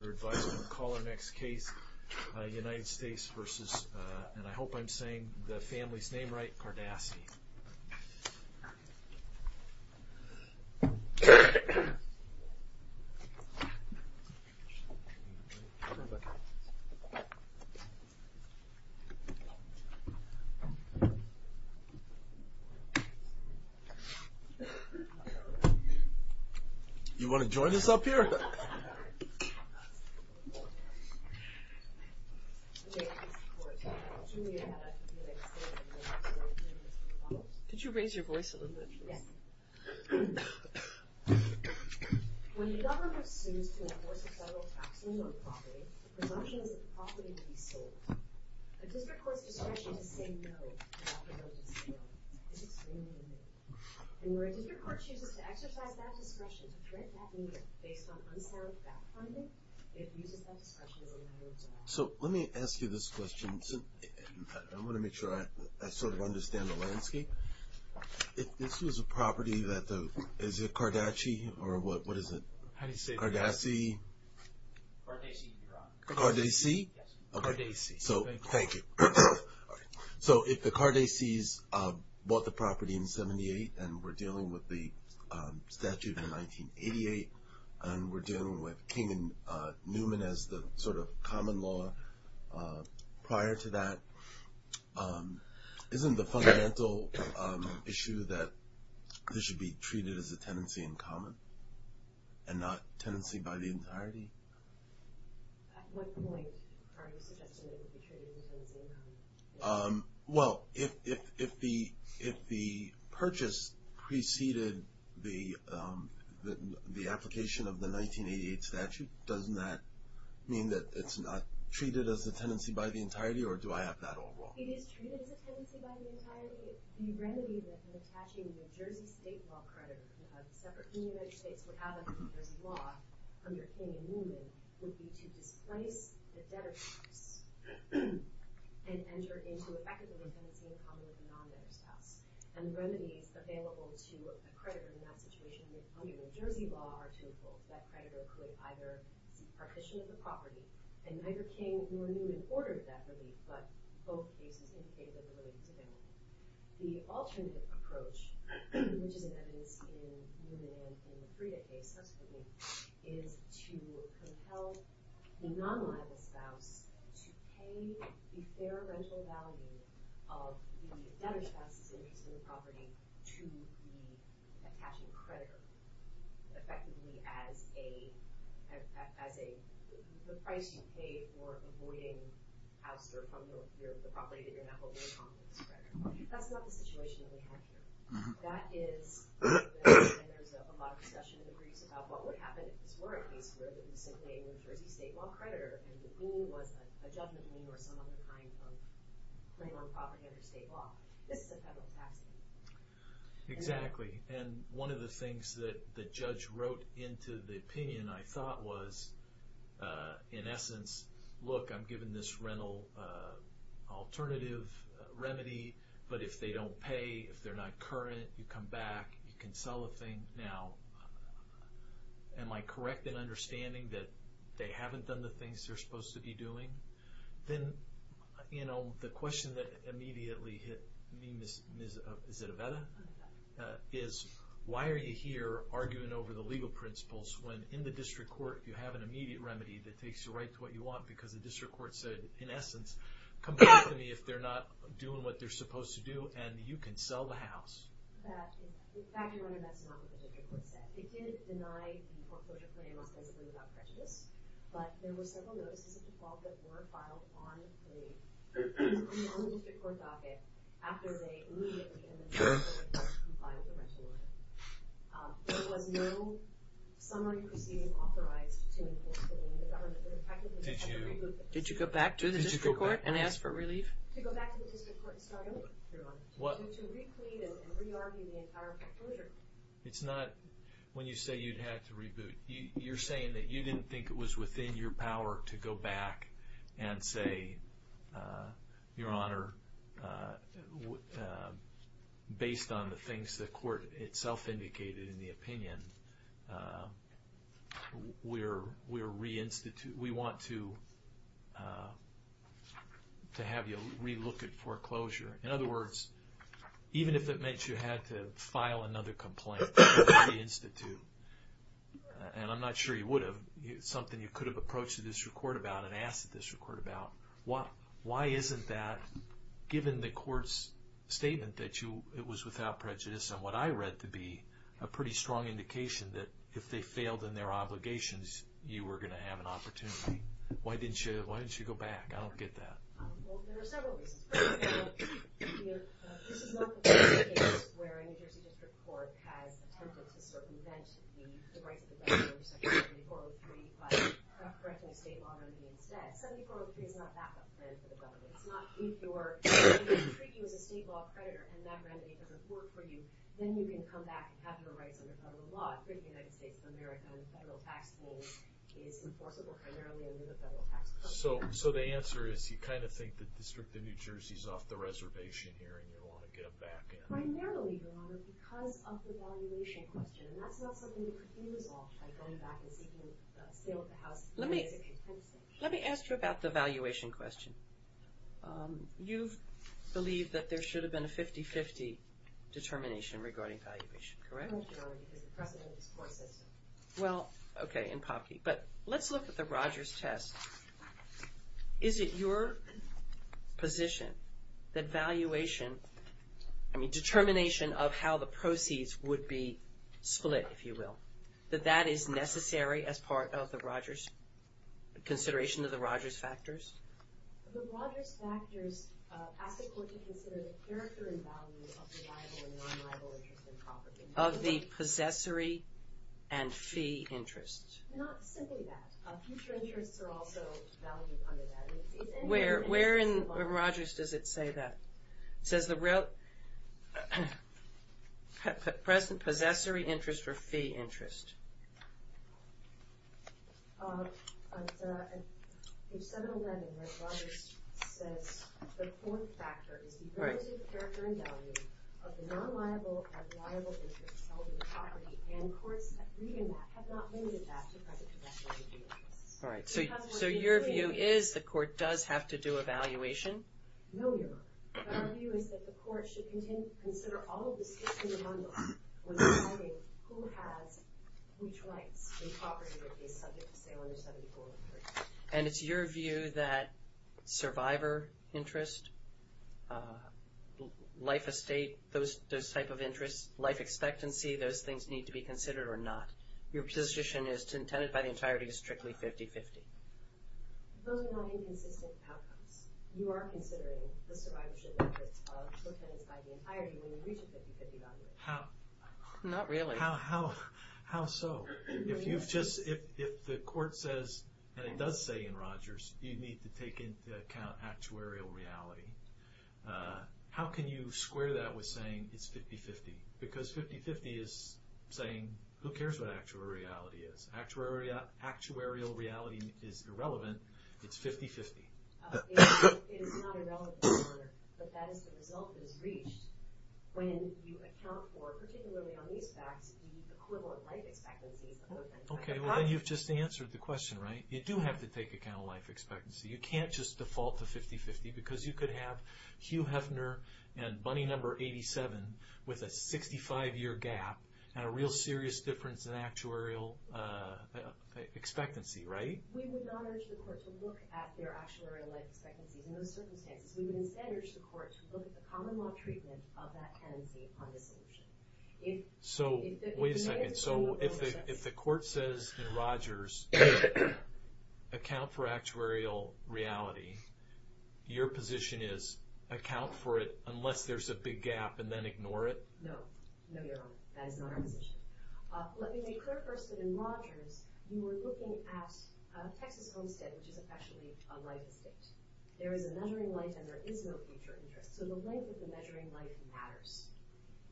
We're advised to call our next case United States versus, and I hope I'm saying the family's name right, Cardassi. You wanna join us up here? Okay. Could you raise your voice a little bit, please? Yes. So, let me ask you this question. I wanna make sure I sort of understand the landscape. If this was a property that the, is it Cardaci or what is it? How do you say it? Cardassi. Cardassi, you're on. Cardassi? Yes. Okay. Cardassi. So, thank you. So, if the Cardassis bought the property in 78 and we're dealing with the statute in 1988, and we're dealing with King and Newman as the sort of common law prior to that, isn't the fundamental issue that this should be treated as a tenancy in common and not tenancy by the entirety? At what point are you suggesting that it should be treated as a tenancy in common? Well, if the purchase preceded the application of the 1988 statute, doesn't that mean that it's not treated as a tenancy by the entirety, or do I have that all wrong? It is treated as a tenancy by the entirety. The remedy that attaching the New Jersey state law credit of separate states would have under New Jersey law, under King and Newman, would be to displace the debtor's spouse and enter into effectively a tenancy in common with a non-debtor's spouse. And the remedies available to a creditor in that situation under New Jersey law are twofold. That creditor could either seek partition of the property, and neither King nor Newman ordered that relief, but both cases indicated that they were related to family. The alternative approach, which is in evidence in Newman and in the Frieda case subsequently, is to compel the non-liable spouse to pay the fair rental value of the debtor's spouse's interest in the property to the attaching creditor, effectively as the price you pay for avoiding ouster from the property that you're not holding on to as a creditor. That's not the situation that we have here. That is, and there's a lot of discussion in the briefs about what would happen if this were a case where the recipient was a New Jersey state law creditor, and the goal was a judgment lien or some other kind of claim on property under state law. This is a federal task force. Exactly. And one of the things that the judge wrote into the opinion, I thought, was, in essence, look, I'm giving this rental alternative remedy, but if they don't pay, if they're not current, you come back, you can sell the thing. Now, am I correct in understanding that they haven't done the things they're supposed to be doing? Then, you know, the question that immediately hit me, Ms. Zitoveta, is why are you here arguing over the legal principles when in the district court you have an immediate remedy that takes you right to what you want because the district court said, in essence, come back to me if they're not doing what they're supposed to do, and you can sell the house. In fact, Your Honor, that's not what the district court said. It did deny the foreclosure claim, specifically without prejudice, but there were several notices of default that were filed on the district court docket after they immediately and then promptly filed the rental order. There was no summary proceeding authorized to enforce the lien. The government practically had to remove it. Did you go back to the district court and ask for relief? To go back to the district court and start over, Your Honor. To re-clean and re-argue the entire foreclosure claim. It's not when you say you'd have to reboot. You're saying that you didn't think it was within your power to go back and say, Your Honor, based on the things the court itself indicated in the opinion, we want to have you re-look at foreclosure. In other words, even if it meant you had to file another complaint with the institute, and I'm not sure you would have. It's something you could have approached the district court about and asked the district court about. Why isn't that, given the court's statement that it was without prejudice, and what I read to be a pretty strong indication that if they failed in their obligations, you were going to have an opportunity. Why didn't you go back? I don't get that. There are several reasons. This is not the kind of case where a New Jersey district court has attempted to circumvent the rights of the government under Section 7403 by correcting a state law remedy instead. 7403 is not that kind of plan for the government. It's not if they treat you as a state law creditor and that remedy doesn't work for you, then you can come back and have your rights under federal law. I think the United States of America and federal tax rules is enforceable primarily under the federal tax code. So the answer is you kind of think the District of New Jersey is off the reservation here and you want to get them back in. Primarily, Your Honor, because of the valuation question. That's not something that could be resolved by going back and seeking a sale of the house. Let me ask you about the valuation question. You believe that there should have been a 50-50 determination regarding valuation, correct? No, Your Honor, because the precedent is court system. Well, okay, in Popke. But let's look at the Rogers test. Is it your position that valuation, I mean determination of how the proceeds would be split, if you will, that that is necessary as part of the Rogers, consideration of the Rogers factors? The Rogers factors ask the court to consider the character and value of the liable and non-liable interest in property. Of the possessory and fee interest. Not simply that. Future interests are also valued under that. Where in Rogers does it say that? It says the present possessory interest or fee interest. But in 711, Rogers says the core factor is the relative character and value of the non-liable and liable interest held in the property. And courts have not limited that to present possessory interest. All right, so your view is the court does have to do a valuation? No, Your Honor. But our view is that the court should consider all of the skips in the bundle when deciding who has which rights in property that is subject to say under 7143. And it's your view that survivor interest, life estate, those type of interests, life expectancy, those things need to be considered or not. Your position is intended by the entirety to be strictly 50-50. Those are not inconsistent outcomes. You are considering the survivorship interest of the tenants by the entirety when you reach a 50-50 value. Not really. How so? If the court says, and it does say in Rogers, you need to take into account actuarial reality, how can you square that with saying it's 50-50? Because 50-50 is saying who cares what actuarial reality is. Actuarial reality is irrelevant. It's 50-50. It is not irrelevant, Your Honor. But that is the result that is reached when you account for, particularly on these facts, the equivalent life expectancies of the entire property. Okay, well then you've just answered the question, right? You do have to take account of life expectancy. You can't just default to 50-50 because you could have Hugh Hefner and bunny number 87 with a 65-year gap and a real serious difference in actuarial expectancy, right? We would not urge the court to look at their actuarial life expectancies in those circumstances. We would instead urge the court to look at the common law treatment of that tenancy on dissolution. Wait a second. So if the court says in Rogers, account for actuarial reality, your position is account for it unless there's a big gap and then ignore it? No. No, Your Honor. That is not our position. Let me make clear first that in Rogers, you were looking at Texas Homestead, which is officially a life estate. There is a measuring life and there is no future interest. So the length of the measuring life matters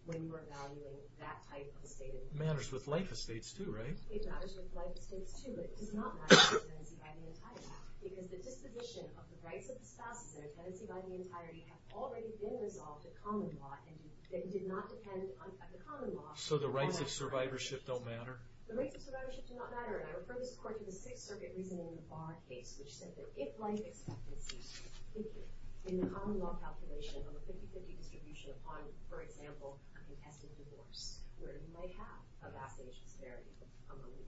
when you are valuing that type of stated interest. It matters with life estates too, right? It matters with life estates too, but it does not matter with tenancy by the entirety because the disposition of the rights of the spouses and tenancy by the entirety have already been resolved at common law and did not depend on the common law. So the rights of survivorship don't matter? The rights of survivorship do not matter. And I refer this court to the Sixth Circuit reasoning in the Bonn case, which said that if life expectancies in the common law calculation on the 50-50 distribution upon, for example, a contested divorce where you may have a vast age disparity among the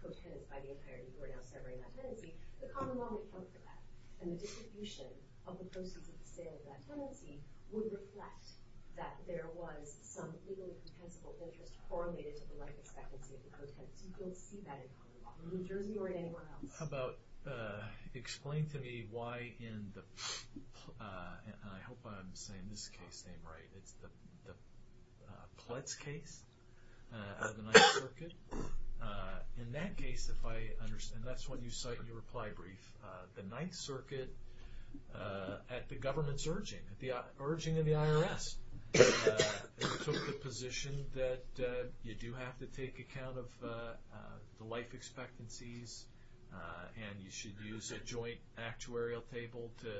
co-tenants by the entirety who are now severing that tenancy, the common law may account for that. And the distribution of the proceeds of the sale of that tenancy would reflect that there was some legal and compensable interest correlated to the life expectancy of the co-tenants. You don't see that in common law in New Jersey or in anywhere else. How about explain to me why in the, and I hope I'm saying this case name right, it's the Pletz case out of the Ninth Circuit. In that case, if I understand, and that's what you cite in your reply brief, the Ninth Circuit, at the government's urging, at the urging of the IRS, took the position that you do have to take account of the life expectancies and you should use a joint actuarial table to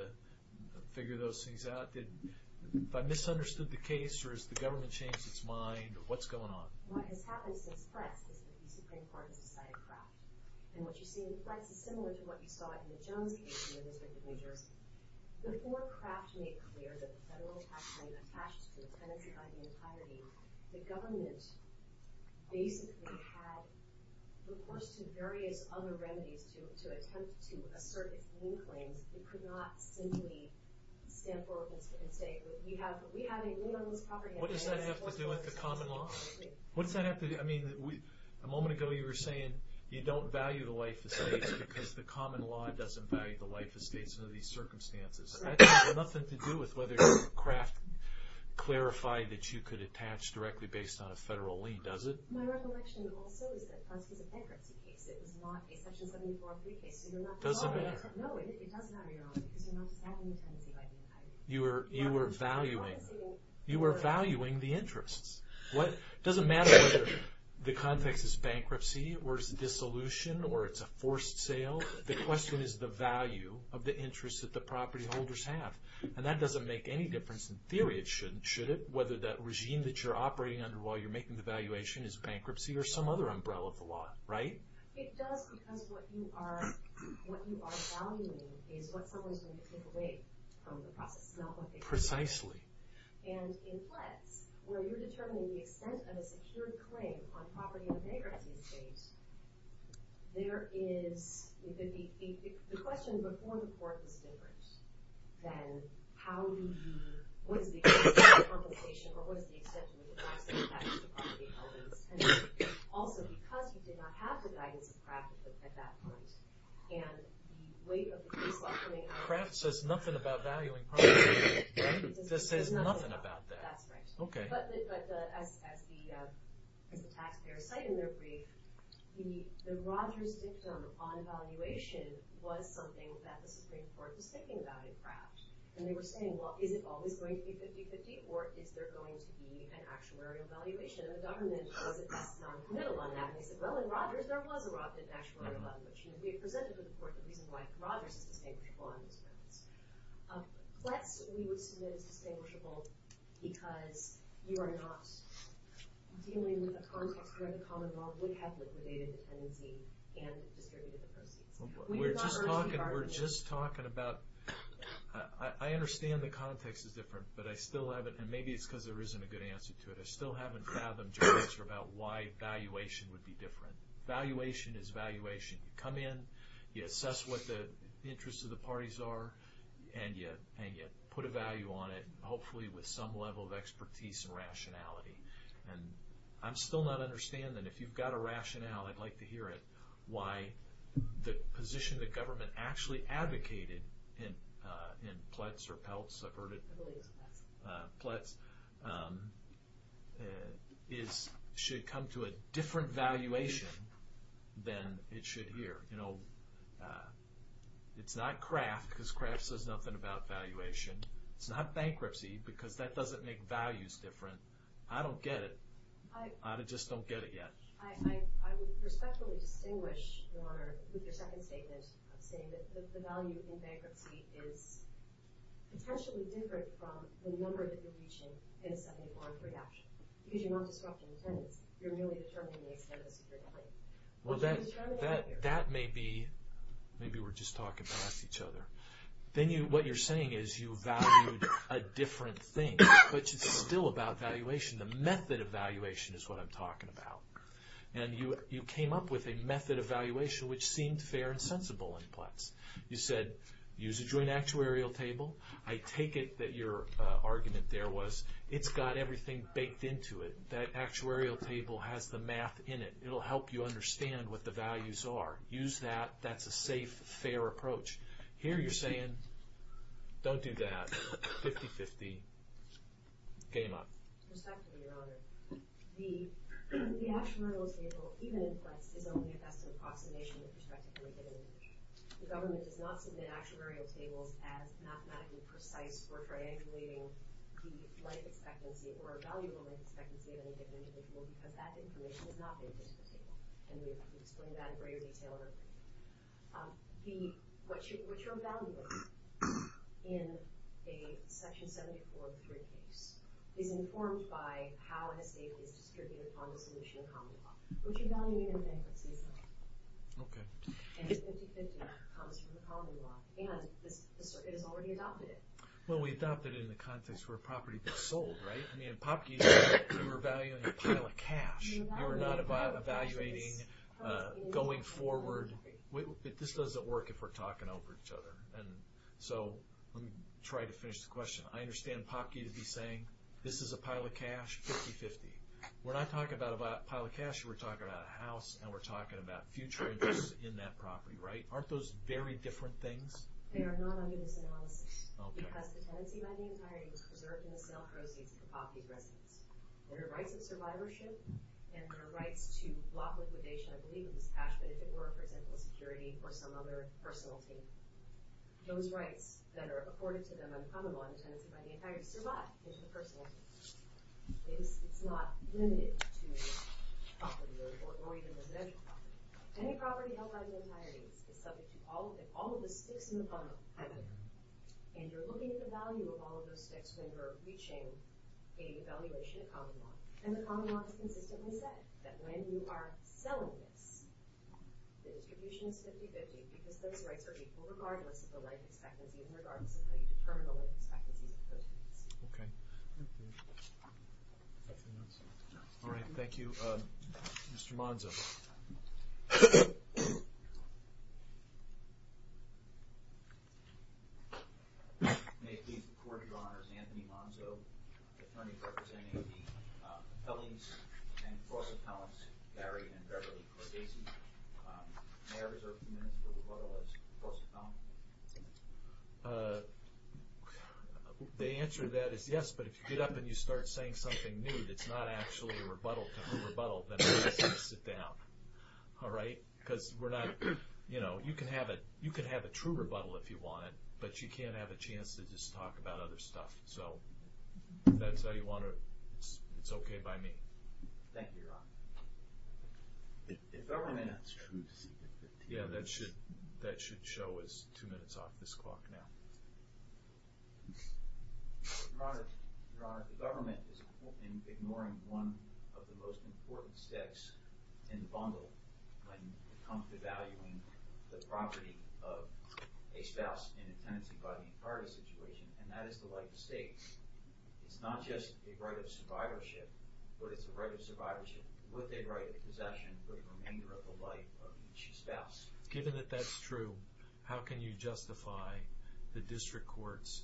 figure those things out. If I misunderstood the case or has the government changed its mind, what's going on? What has happened since Pletz is that the Supreme Court has decided crap. And what you see in Pletz is similar to what you saw in the Jones case in the District of New Jersey. Before Kraft made clear that the federal tax claim attached to the tenancy by the entirety, the government basically had reports to various other remedies to attempt to assert its lien claims. It could not simply stand firm and say we have a lien on this property. What does that have to do with the common law? What does that have to do? I mean, a moment ago you were saying you don't value the life estates because the common law doesn't value the life estates under these circumstances. That has nothing to do with whether Kraft clarified that you could attach directly based on a federal lien, does it? My recollection also is that Pletz was a bankruptcy case. It was not a Section 7403 case. It doesn't matter. No, it does matter, Your Honor, because you're not just adding the tenancy by the entirety. You were valuing the interests. It doesn't matter whether the context is bankruptcy or it's a dissolution or it's a forced sale. The question is the value of the interests that the propertyholders have. And that doesn't make any difference. In theory, it shouldn't, should it? Whether that regime that you're operating under while you're making the valuation is bankruptcy or some other umbrella of the law, right? It does because what you are valuing is what someone is going to take away from the process, not what they've done. Precisely. And in Pletz, where you're determining the extent of a secured claim on property on bankruptcy estate, there is the question before the court is different than how do you, what is the extent of the compensation or what is the extent of the advice that you pass to the propertyholders. And also, because you did not have the guidance of Kraft at that point, and the weight of the case law coming out of it. Kraft says nothing about valuing property, right? This says nothing about that. That's right. Okay. But as the taxpayers cite in their brief, the Rogers dictum on valuation was something that the Supreme Court was thinking about in Kraft. And they were saying, well, is it always going to be 50-50 or is there going to be an actuarial valuation? And the government was at best noncommittal on that. And they said, well, in Rogers, there was an actuarial valuation. It presented to the court the reason why Rogers is distinguished on this premise. Plus, we would submit it's distinguishable because you are not dealing with a context where the common law would have liquidated the tenancy and distributed the proceeds. We're just talking about, I understand the context is different, but I still haven't, and maybe it's because there isn't a good answer to it, I still haven't fathomed your answer about why valuation would be different. Valuation is valuation. You come in, you assess what the interests of the parties are, and you put a value on it, hopefully with some level of expertise and rationality. And I'm still not understanding, and if you've got a rationale, I'd like to hear it, why the position the government actually advocated in Pletz or Peltz, I've heard it, Pletz, should come to a different valuation than it should here. It's not Kraft because Kraft says nothing about valuation. It's not bankruptcy because that doesn't make values different. I don't get it. I just don't get it yet. I would respectfully distinguish your second statement of saying that the value in bankruptcy is potentially different from the number that you're reaching in a 70-point reduction because you're not disrupting the tenants. You're merely determining the extent of the superiority. Well, that may be, maybe we're just talking past each other. Then what you're saying is you valued a different thing, which is still about valuation. The method of valuation is what I'm talking about. And you came up with a method of valuation which seemed fair and sensible in Pletz. You said use a joint actuarial table. I take it that your argument there was it's got everything baked into it. That actuarial table has the math in it. It'll help you understand what the values are. Use that. That's a safe, fair approach. Here you're saying don't do that. 50-50. Game up. Respectfully, Your Honor, the actuarial table, even in Pletz, is only a best-in-approximation with respect to any given individual. The government does not submit actuarial tables as mathematically precise for triangulating the life expectancy or a valuable life expectancy of any given individual because that information is not baked into the table. And we've explained that in greater detail in our opinion. What you're evaluating in a Section 74-3 case is informed by how an estate is distributed on the solution common law. What you're evaluating in a bankruptcy is not. And 50-50 comes from the common law. And the circuit has already adopted it. Well, we adopted it in the context where a property was sold, right? I mean, in Popkey's case, we were evaluating a pile of cash. We were not evaluating going forward. This doesn't work if we're talking over each other. So let me try to finish the question. I understand Popkey to be saying this is a pile of cash, 50-50. We're not talking about a pile of cash. We're talking about a house, and we're talking about future interests in that property, right? Aren't those very different things? They are not under this analysis because the tenancy by the entirety was preserved in the sale proceeds to Popkey's residence. There are rights of survivorship and there are rights to block liquidation, I believe it was cash, but if it were, for example, security or some other personal thing. Those rights that are accorded to them in common law in the tenancy by the entirety survive in the personal tenancy. It's not limited to property or even residential property. Any property held by the entirety is subject to all of the sticks in the bottom. And you're looking at the value of all of those sticks when you're reaching a valuation in common law. And the common law has consistently said that when you are selling this, the distribution is 50-50 because those rights are equal regardless of the life expectancy in regards to how you determine the life expectancy of the tenancy. Okay. All right, thank you. Mr. Monzo. May it please the Court, Your Honors, Anthony Monzo, attorney representing the Ellings and Forsettowns, Gary and Beverly Corgasi. May I reserve a few minutes for rebuttal as Forsettown? The answer to that is yes, but if you get up and you start saying something new that's not actually a rebuttal to a rebuttal, then I'd like you to sit down. All right? Because we're not, you know, you can have a true rebuttal if you want it, but you can't have a chance to just talk about other stuff. So, if that's how you want it, it's okay by me. Thank you, Your Honor. If I may... Yeah, that should show us two minutes off this clock now. Your Honor, the government is ignoring one of the most important steps in the bundle when it comes to valuing the property of a spouse in a tenancy-buying party situation, and that is the life estate. It's not just a right of survivorship, but it's a right of survivorship with a right of possession for the remainder of the life of each spouse. Given that that's true, how can you justify the district courts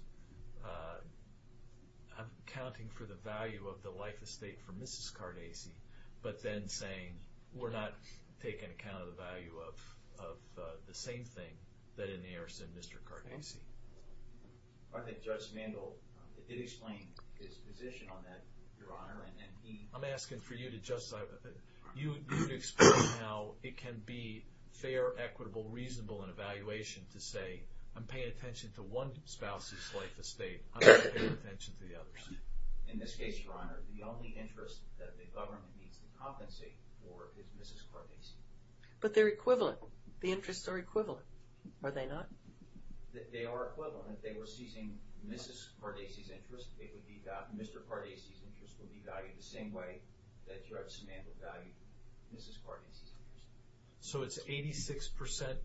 accounting for the value of the life estate for Mrs. Cordasi, but then saying, we're not taking account of the value of the same thing that inherits in Mr. Cordasi? I think Judge Mandel did explain his position on that, Your Honor, and he... I'm asking for you to justify... You need to explain how it can be fair, equitable, reasonable in evaluation to say, I'm paying attention to one spouse's life estate. I'm not paying attention to the others. In this case, Your Honor, the only interest that the government needs to compensate for is Mrs. Cordasi. But they're equivalent. The interests are equivalent. Are they not? They are equivalent. If they were seizing Mrs. Cordasi's interest, Mr. Cordasi's interest would be valued the same way that Judge Mandel valued Mrs. Cordasi's interest. So it's 86%,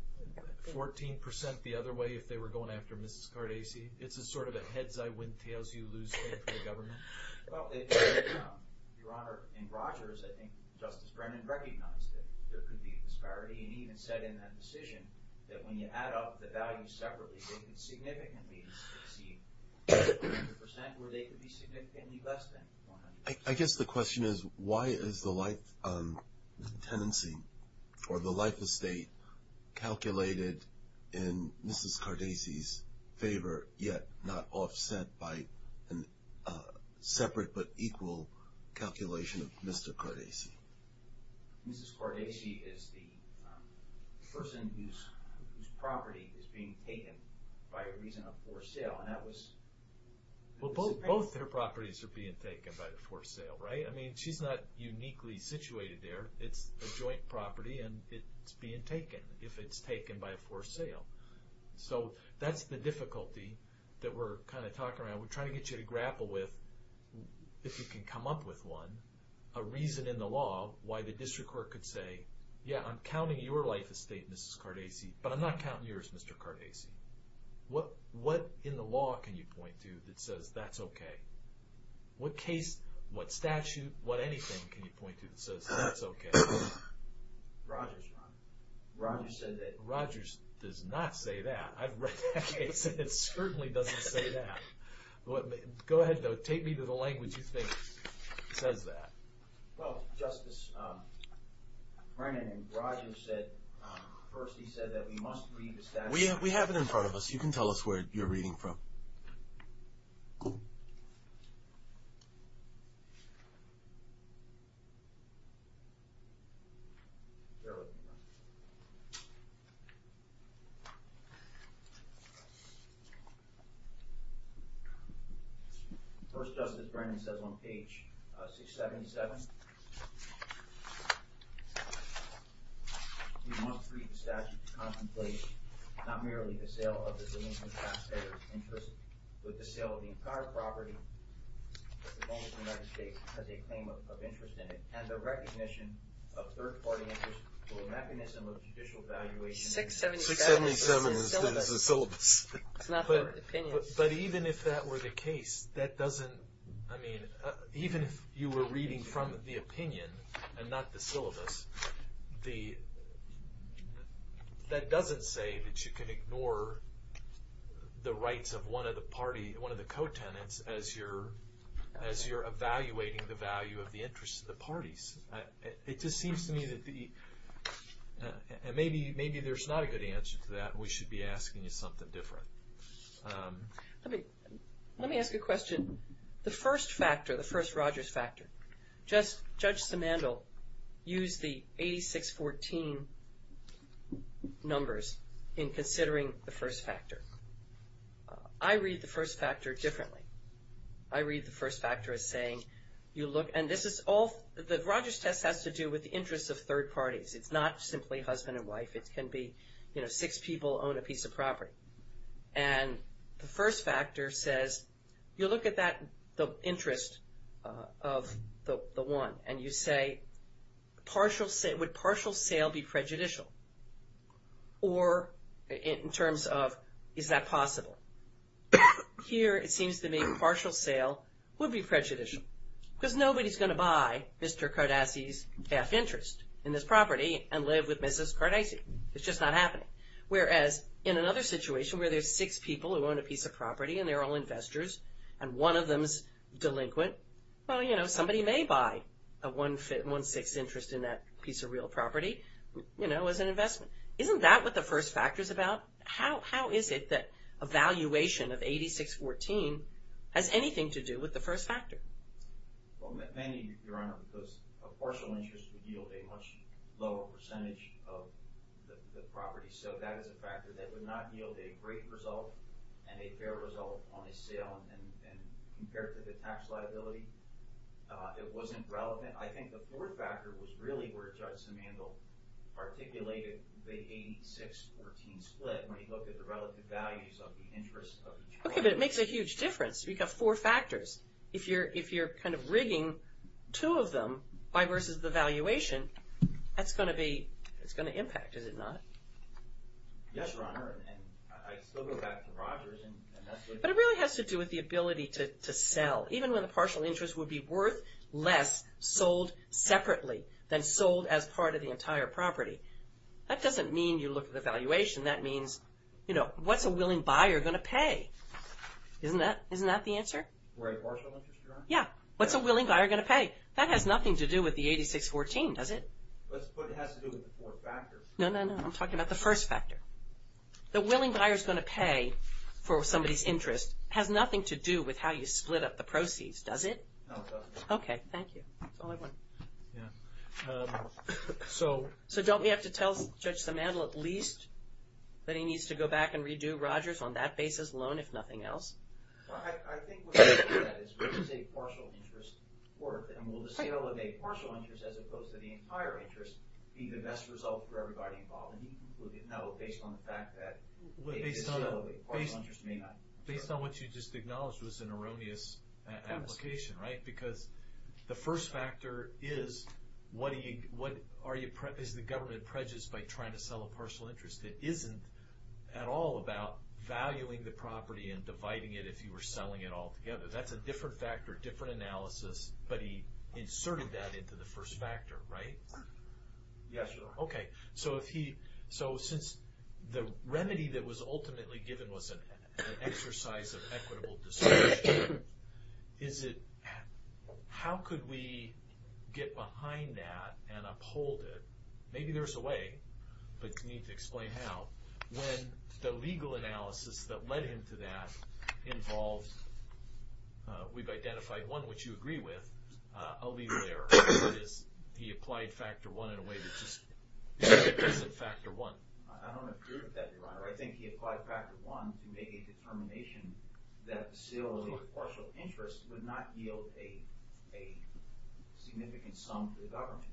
14% the other way if they were going after Mrs. Cordasi? It's a sort of a heads-I-win-tails-you-lose game for the government? Well, Your Honor, in Rogers, I think Justice Brennan recognized that there could be a disparity and even said in that decision that when you add up the values separately, they could significantly exceed 100%, or they could be significantly less than 100%. I guess the question is, why is the life tenancy, or the life estate, calculated in Mrs. Cordasi's favor yet not offset by a separate but equal calculation of Mr. Cordasi? Mrs. Cordasi is the person whose property is being taken by a reason of forced sale, and that was— Well, both their properties are being taken by the forced sale, right? I mean, she's not uniquely situated there. It's a joint property, and it's being taken if it's taken by a forced sale. So that's the difficulty that we're kind of talking around. We're trying to get you to grapple with, if you can come up with one, a reason in the law why the district court could say, yeah, I'm counting your life estate, Mrs. Cordasi, but I'm not counting yours, Mr. Cordasi. What in the law can you point to that says that's okay? What case, what statute, what anything can you point to that says that's okay? Rogers, Ron. Rogers said that— Rogers does not say that. I've read that case, and it certainly doesn't say that. Go ahead, though. Take me to the language you think says that. Well, Justice Brennan, Rogers said—first he said that we must read the statute. We have it in front of us. You can tell us where you're reading from. Cool. First Justice Brennan says on page 677, we must read the statute to contemplate not merely the sale of the domain of the taxpayer's interest, but the sale of the entire property that belongs to the United States as a claim of interest in it, and the recognition of third-party interest through a mechanism of judicial evaluation— 677 is the syllabus. It's not the opinion. But even if that were the case, that doesn't— I mean, even if you were reading from the opinion and not the syllabus, that doesn't say that you can ignore the rights of one of the co-tenants as you're evaluating the value of the interests of the parties. It just seems to me that the— Let me ask a question. The first factor, the first Rogers factor, Judge Simandl used the 8614 numbers in considering the first factor. I read the first factor differently. I read the first factor as saying you look— and this is all—the Rogers test has to do with the interests of third parties. It's not simply husband and wife. It can be, you know, six people own a piece of property. And the first factor says you look at the interest of the one, and you say would partial sale be prejudicial? Or in terms of is that possible? Here it seems to me partial sale would be prejudicial because nobody's going to buy Mr. Cardassi's half interest in this property and live with Mrs. Cardassi. It's just not happening. Whereas in another situation where there's six people who own a piece of property and they're all investors and one of them's delinquent, well, you know, somebody may buy a one-sixth interest in that piece of real property, you know, as an investment. Isn't that what the first factor's about? How is it that a valuation of 8614 has anything to do with the first factor? Well, maybe, Your Honor, because a partial interest would yield a much lower percentage of the property. So that is a factor that would not yield a great result and a fair result on a sale. And compared to the tax liability, it wasn't relevant. I think the fourth factor was really where Judge Simandl articulated the 8614 split when he looked at the relative values of the interest of each property. Okay, but it makes a huge difference. You've got four factors. If you're kind of rigging two of them versus the valuation, that's going to impact, is it not? Yes, Your Honor, and I still go back to Rogers and that's what... But it really has to do with the ability to sell. Even when the partial interest would be worth less sold separately than sold as part of the entire property. That doesn't mean you look at the valuation. That means, you know, what's a willing buyer going to pay? Isn't that the answer? Right. Partial interest, Your Honor? Yeah. What's a willing buyer going to pay? That has nothing to do with the 8614, does it? But it has to do with the four factors. No, no, no. I'm talking about the first factor. The willing buyer's going to pay for somebody's interest has nothing to do with how you split up the proceeds, does it? No, it doesn't. Okay, thank you. That's all I wanted. Yeah. So... So don't we have to tell Judge Simandl at least that he needs to go back and redo Rogers on that basis alone, if nothing else? Well, I think what's left of that is what is a partial interest worth? And will the sale of a partial interest as opposed to the entire interest be the best result for everybody involved? And you can conclude that no, based on the fact that... Based on what you just acknowledged was an erroneous application, right? Because the first factor is what are you... Is the government prejudiced by trying to sell a partial interest? It isn't at all about valuing the property and dividing it if you were selling it all together. That's a different factor, different analysis, but he inserted that into the first factor, right? Yes, sir. Okay. So if he... So since the remedy that was ultimately given was an exercise of equitable discussion, is it... How could we get behind that and uphold it? Maybe there's a way, but you need to explain how. When the legal analysis that led him to that involved... We've identified one which you agree with, a legal error. That is, he applied factor one in a way that just... It isn't factor one. I don't agree with that, Your Honor. I think he applied factor one to make a determination that the sale of a partial interest would not yield a significant sum to the government.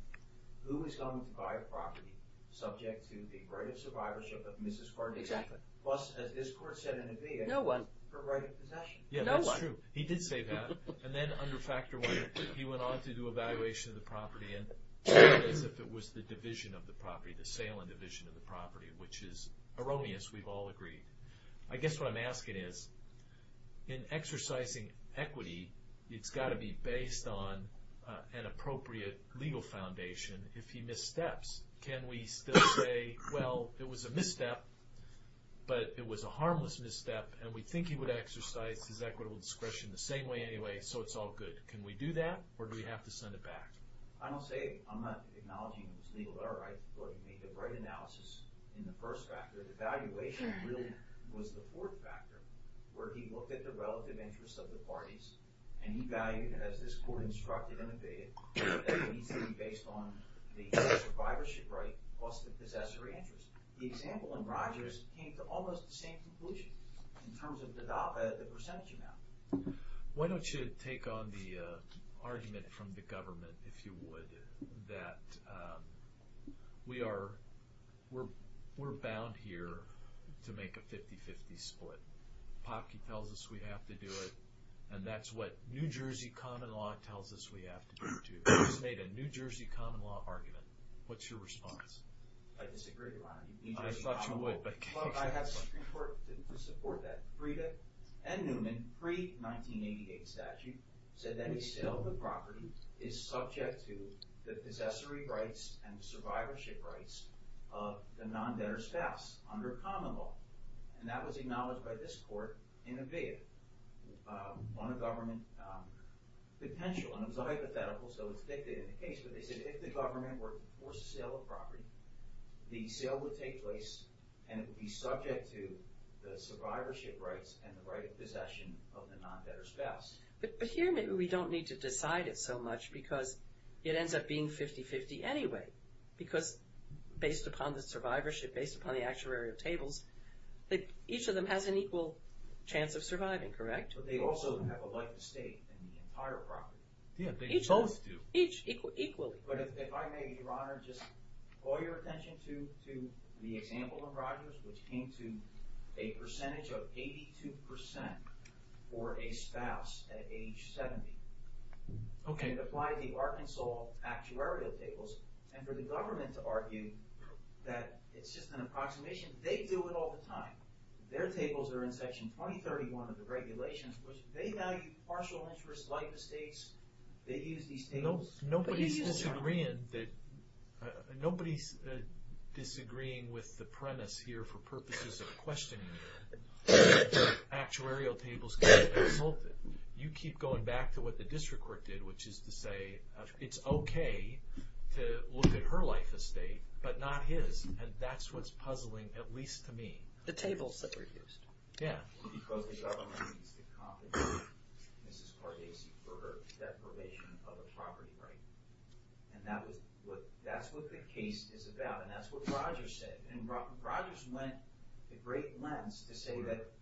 Who is going to buy a property subject to the right of survivorship of Mrs. Gardner? Exactly. Plus, as this court said in the VA... No one. Her right of possession. No one. Yeah, that's true. He did say that. And then under factor one, he went on to do evaluation of the property as if it was the division of the property, the sale and division of the property, which is erroneous. We've all agreed. I guess what I'm asking is, in exercising equity, it's got to be based on an appropriate legal foundation if he missteps. Can we still say, well, it was a misstep, but it was a harmless misstep, and we think he would exercise his equitable discretion the same way anyway, so it's all good? Can we do that, or do we have to send it back? I don't say... I'm not acknowledging it was legal error. I thought he made the right analysis in the first factor. Evaluation really was the fourth factor, where he looked at the relative interests of the parties, and he valued, as this court instructed in the VA, that it needs to be based on the survivorship right plus the possessory interest. The example in Rogers came to almost the same conclusion in terms of the percentage amount. Why don't you take on the argument from the government, if you would, that we're bound here to make a 50-50 split. Popke tells us we have to do it, and that's what New Jersey common law tells us we have to do too. He's made a New Jersey common law argument. What's your response? I disagree, Your Honor. I thought you would, but... Well, I have something to support that. Frieda and Newman, pre-1988 statute, said any sale of a property is subject to the possessory rights and the survivorship rights of the non-debtor's spouse under common law. That was acknowledged by this court in a VA on a government potential. It was a hypothetical, so it's dictated in the case, but they said if the government were to force a sale of property, the sale would take place, and it would be subject to the survivorship rights and the right of possession of the non-debtor's spouse. But here maybe we don't need to decide it so much, because it ends up being 50-50 anyway, because based upon the survivorship, based upon the actuarial tables, each of them has an equal chance of surviving, correct? But they also have a right to stay in the entire property. Yeah, they both do. Each equally. But if I may, Your Honor, just call your attention to the example of Rogers, which came to a percentage of 82% for a spouse at age 70. Okay. It applied the Arkansas actuarial tables, and for the government to argue that it's just an approximation, they do it all the time. Their tables are in Section 2031 of the regulations, which they value partial interest, life estates. They use these tables. Nobody's disagreeing with the premise here for purposes of questioning the actuarial tables. You keep going back to what the district court did, which is to say it's okay to look at her life estate, but not his. And that's what's puzzling, at least to me. The tables that were used. Yeah. Because the government needs to compensate Mrs. Pardesi for her deprivation of a property right. And that's what the case is about, and that's what Rogers said. And Rogers went a great lengths to say that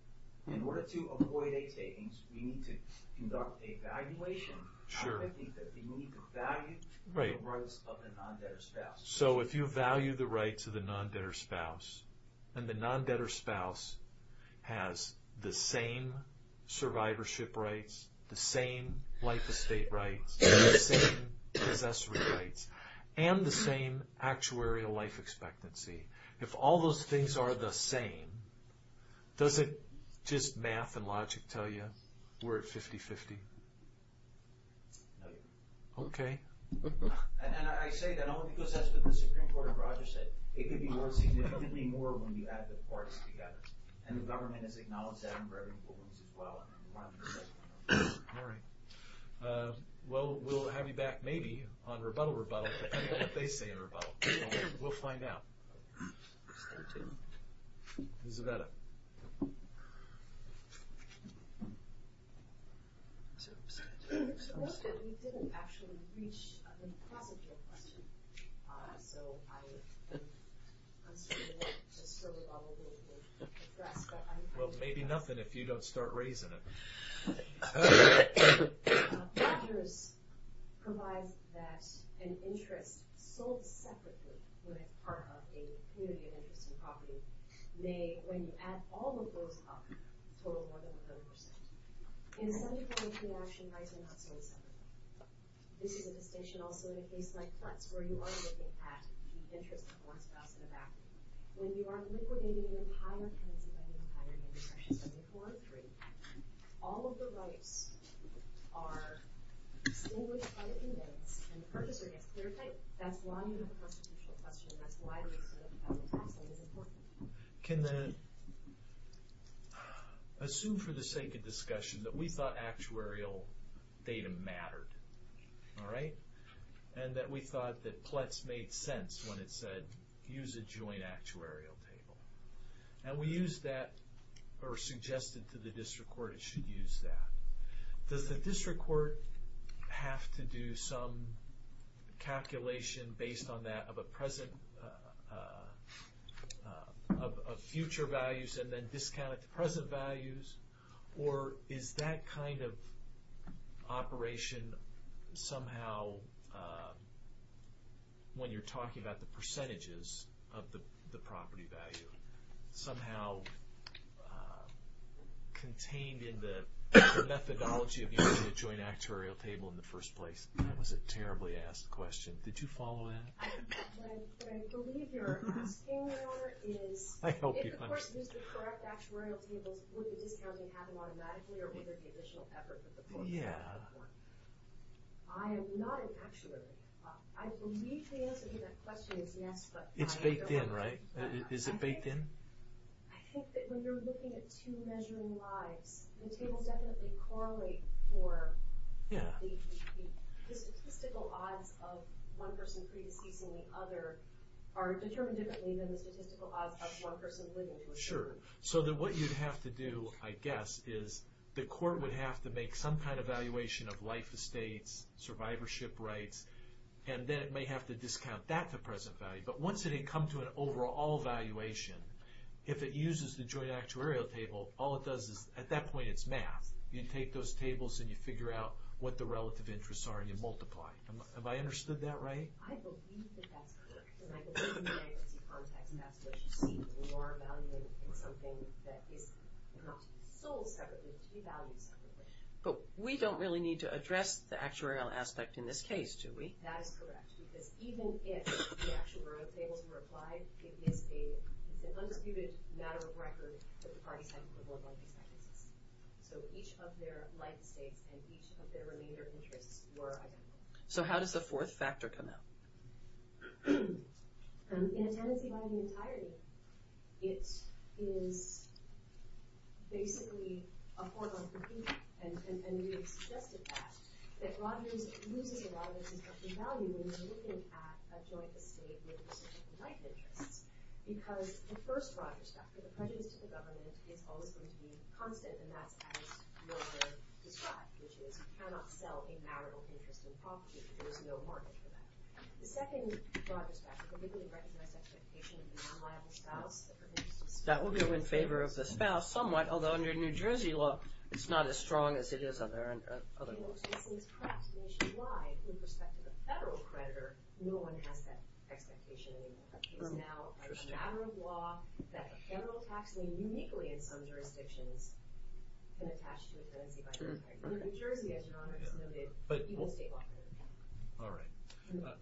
in order to avoid a takings, we need to conduct a valuation. Sure. I think that we need to value the rights of the non-debtor spouse. So if you value the rights of the non-debtor spouse, and the non-debtor spouse has the same survivorship rights, the same life estate rights, the same possessory rights, and the same actuarial life expectancy, if all those things are the same, does it just math and logic tell you we're at 50-50? No. Okay. And I say that only because that's what the Supreme Court of Rogers said. It could be worth significantly more when you add the parts together. And the government has acknowledged that in Reverend Williams as well. All right. Well, we'll have you back maybe on rebuttal, rebuttal, depending on what they say in rebuttal. We'll find out. Thank you. Isabella. Mr. Worsted, we didn't actually reach the process of your question. So I'm just sort of a little bit depressed. Well, maybe nothing if you don't start raising it. Rogers provides that an interest sold separately when it's part of a community of interest and property may, when you add all of those up, total more than 100%. In some international rights, they're not sold separately. This is a distinction also in a case like Kletz, where you are looking at the interest of one spouse in the back. When you are liquidating an entire tenancy by the entirety of the purchase, 74 and 3, all of the rights are extinguished by the inmates, and the purchaser gets clear-cut. That's why you have a constitutional question. That's why the extent of the federal tax loan is important. Can the assume for the sake of discussion that we thought actuarial data mattered, all right? And that we thought that Kletz made sense when it said use a joint actuarial table. And we used that or suggested to the district court it should use that. Does the district court have to do some calculation based on that of a present, of future values and then discount it to present values? Or is that kind of operation somehow, when you're talking about the percentages of the property value, somehow contained in the methodology of using a joint actuarial table in the first place? That was a terribly asked question. Did you follow that? What I believe you're asking, Your Honor, is if the person used the correct actuarial tables, would the discounting happen automatically or would there be additional effort for the court? Yeah. I am not an actuary. I believe the answer to that question is yes, but... It's baked in, right? Is it baked in? I think that when you're looking at two measuring lives, the tables definitely correlate for the statistical odds of one person pre-deceasing the other are determined differently than the statistical odds of one person living to a certain age. Sure. So then what you'd have to do, I guess, is the court would have to make some kind of evaluation of life estates, survivorship rights, and then it may have to discount that to present value. But once it had come to an overall evaluation, if it uses the joint actuarial table, all it does is, at that point, it's math. You take those tables and you figure out what the relative interests are and you multiply. Have I understood that right? I believe that that's correct. In the bankruptcy context, that's what you see as a lower value in something that is not to be sold separately, but to be valued separately. But we don't really need to address the actuarial aspect in this case, do we? That is correct, because even if the actuarial tables were applied, it is an undisputed matter of record that the parties have equivalent life estates. So each of their life estates and each of their remainder interests were identical. So how does the fourth factor come out? In a tenancy-binding entirety, it is basically a four-month review, and we have suggested that, that Rogers loses a lot of its expected value when you're looking at a joint estate with reciprocal life interests, because the first Rogers factor, the prejudice to the government, is always going to be constant, and that's as Wilbur described, which is you cannot sell a marital interest in property if there is no market for that. The second Rogers factor, the legally recognized expectation of the non-liable spouse, that will go in favor of the spouse somewhat, although under New Jersey law, it's not as strong as it is other laws. Since perhaps nationwide, with respect to the federal creditor, no one has that expectation anymore. It is now a matter of law that federal taxing uniquely in some jurisdictions can attach to a tenancy-binding entirety. New Jersey, as Your Honor has noted, people stay off their account. All right.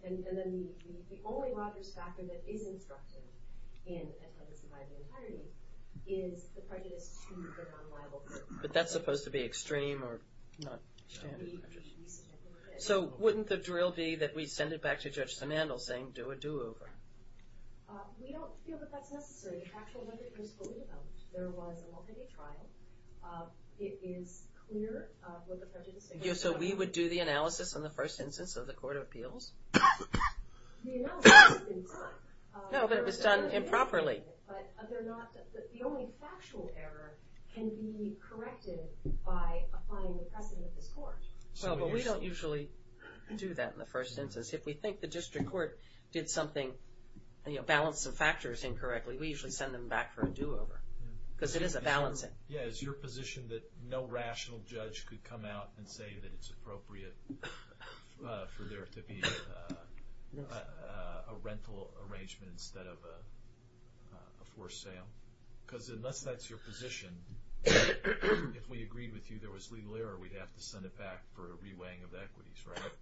And then the only Rogers factor that is instructive in a tenancy-binding entirety is the prejudice to the non-liable spouse. But that's supposed to be extreme, or not standard prejudice. So wouldn't the drill be that we send it back to Judge Sanandle saying, do a do-over? We don't feel that that's necessary. The factual evidence was fully developed. There was a multi-day trial. It is clear what the prejudice is. So we would do the analysis on the first instance of the court of appeals? The analysis has been done. No, but it was done improperly. But the only factual error can be corrected by applying the precedent of this court. Well, but we don't usually do that in the first instance. If we think the district court did something, balanced some factors incorrectly, we usually send them back for a do-over. Because it is a balancing. Yeah, is your position that no rational judge could come out and say that it's appropriate for there to be a rental arrangement instead of a forced sale? Because unless that's your position, if we agreed with you there was legal error, we'd have to send it back for a re-weighing of the equities, right?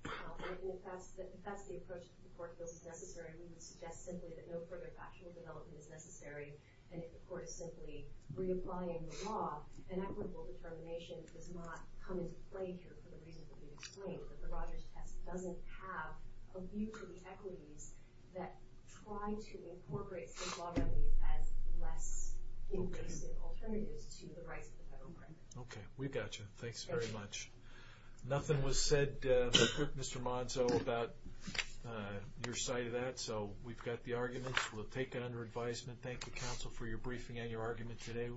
Well, if that's the approach that the court feels is necessary, we would suggest simply that no further factual development is necessary. And if the court is simply reapplying the law, an equitable determination does not come into play here for the reasons that we've explained. The Rogers test doesn't have a view to the equities that try to incorporate state law remedies as less inclusive alternatives to the rights of the federal government. Okay, we've got you. Thanks very much. Nothing was said, Mr. Monzo, about your side of that. So we've got the arguments. We'll take it under advisement. Thank you, counsel, for your briefing and your argument today.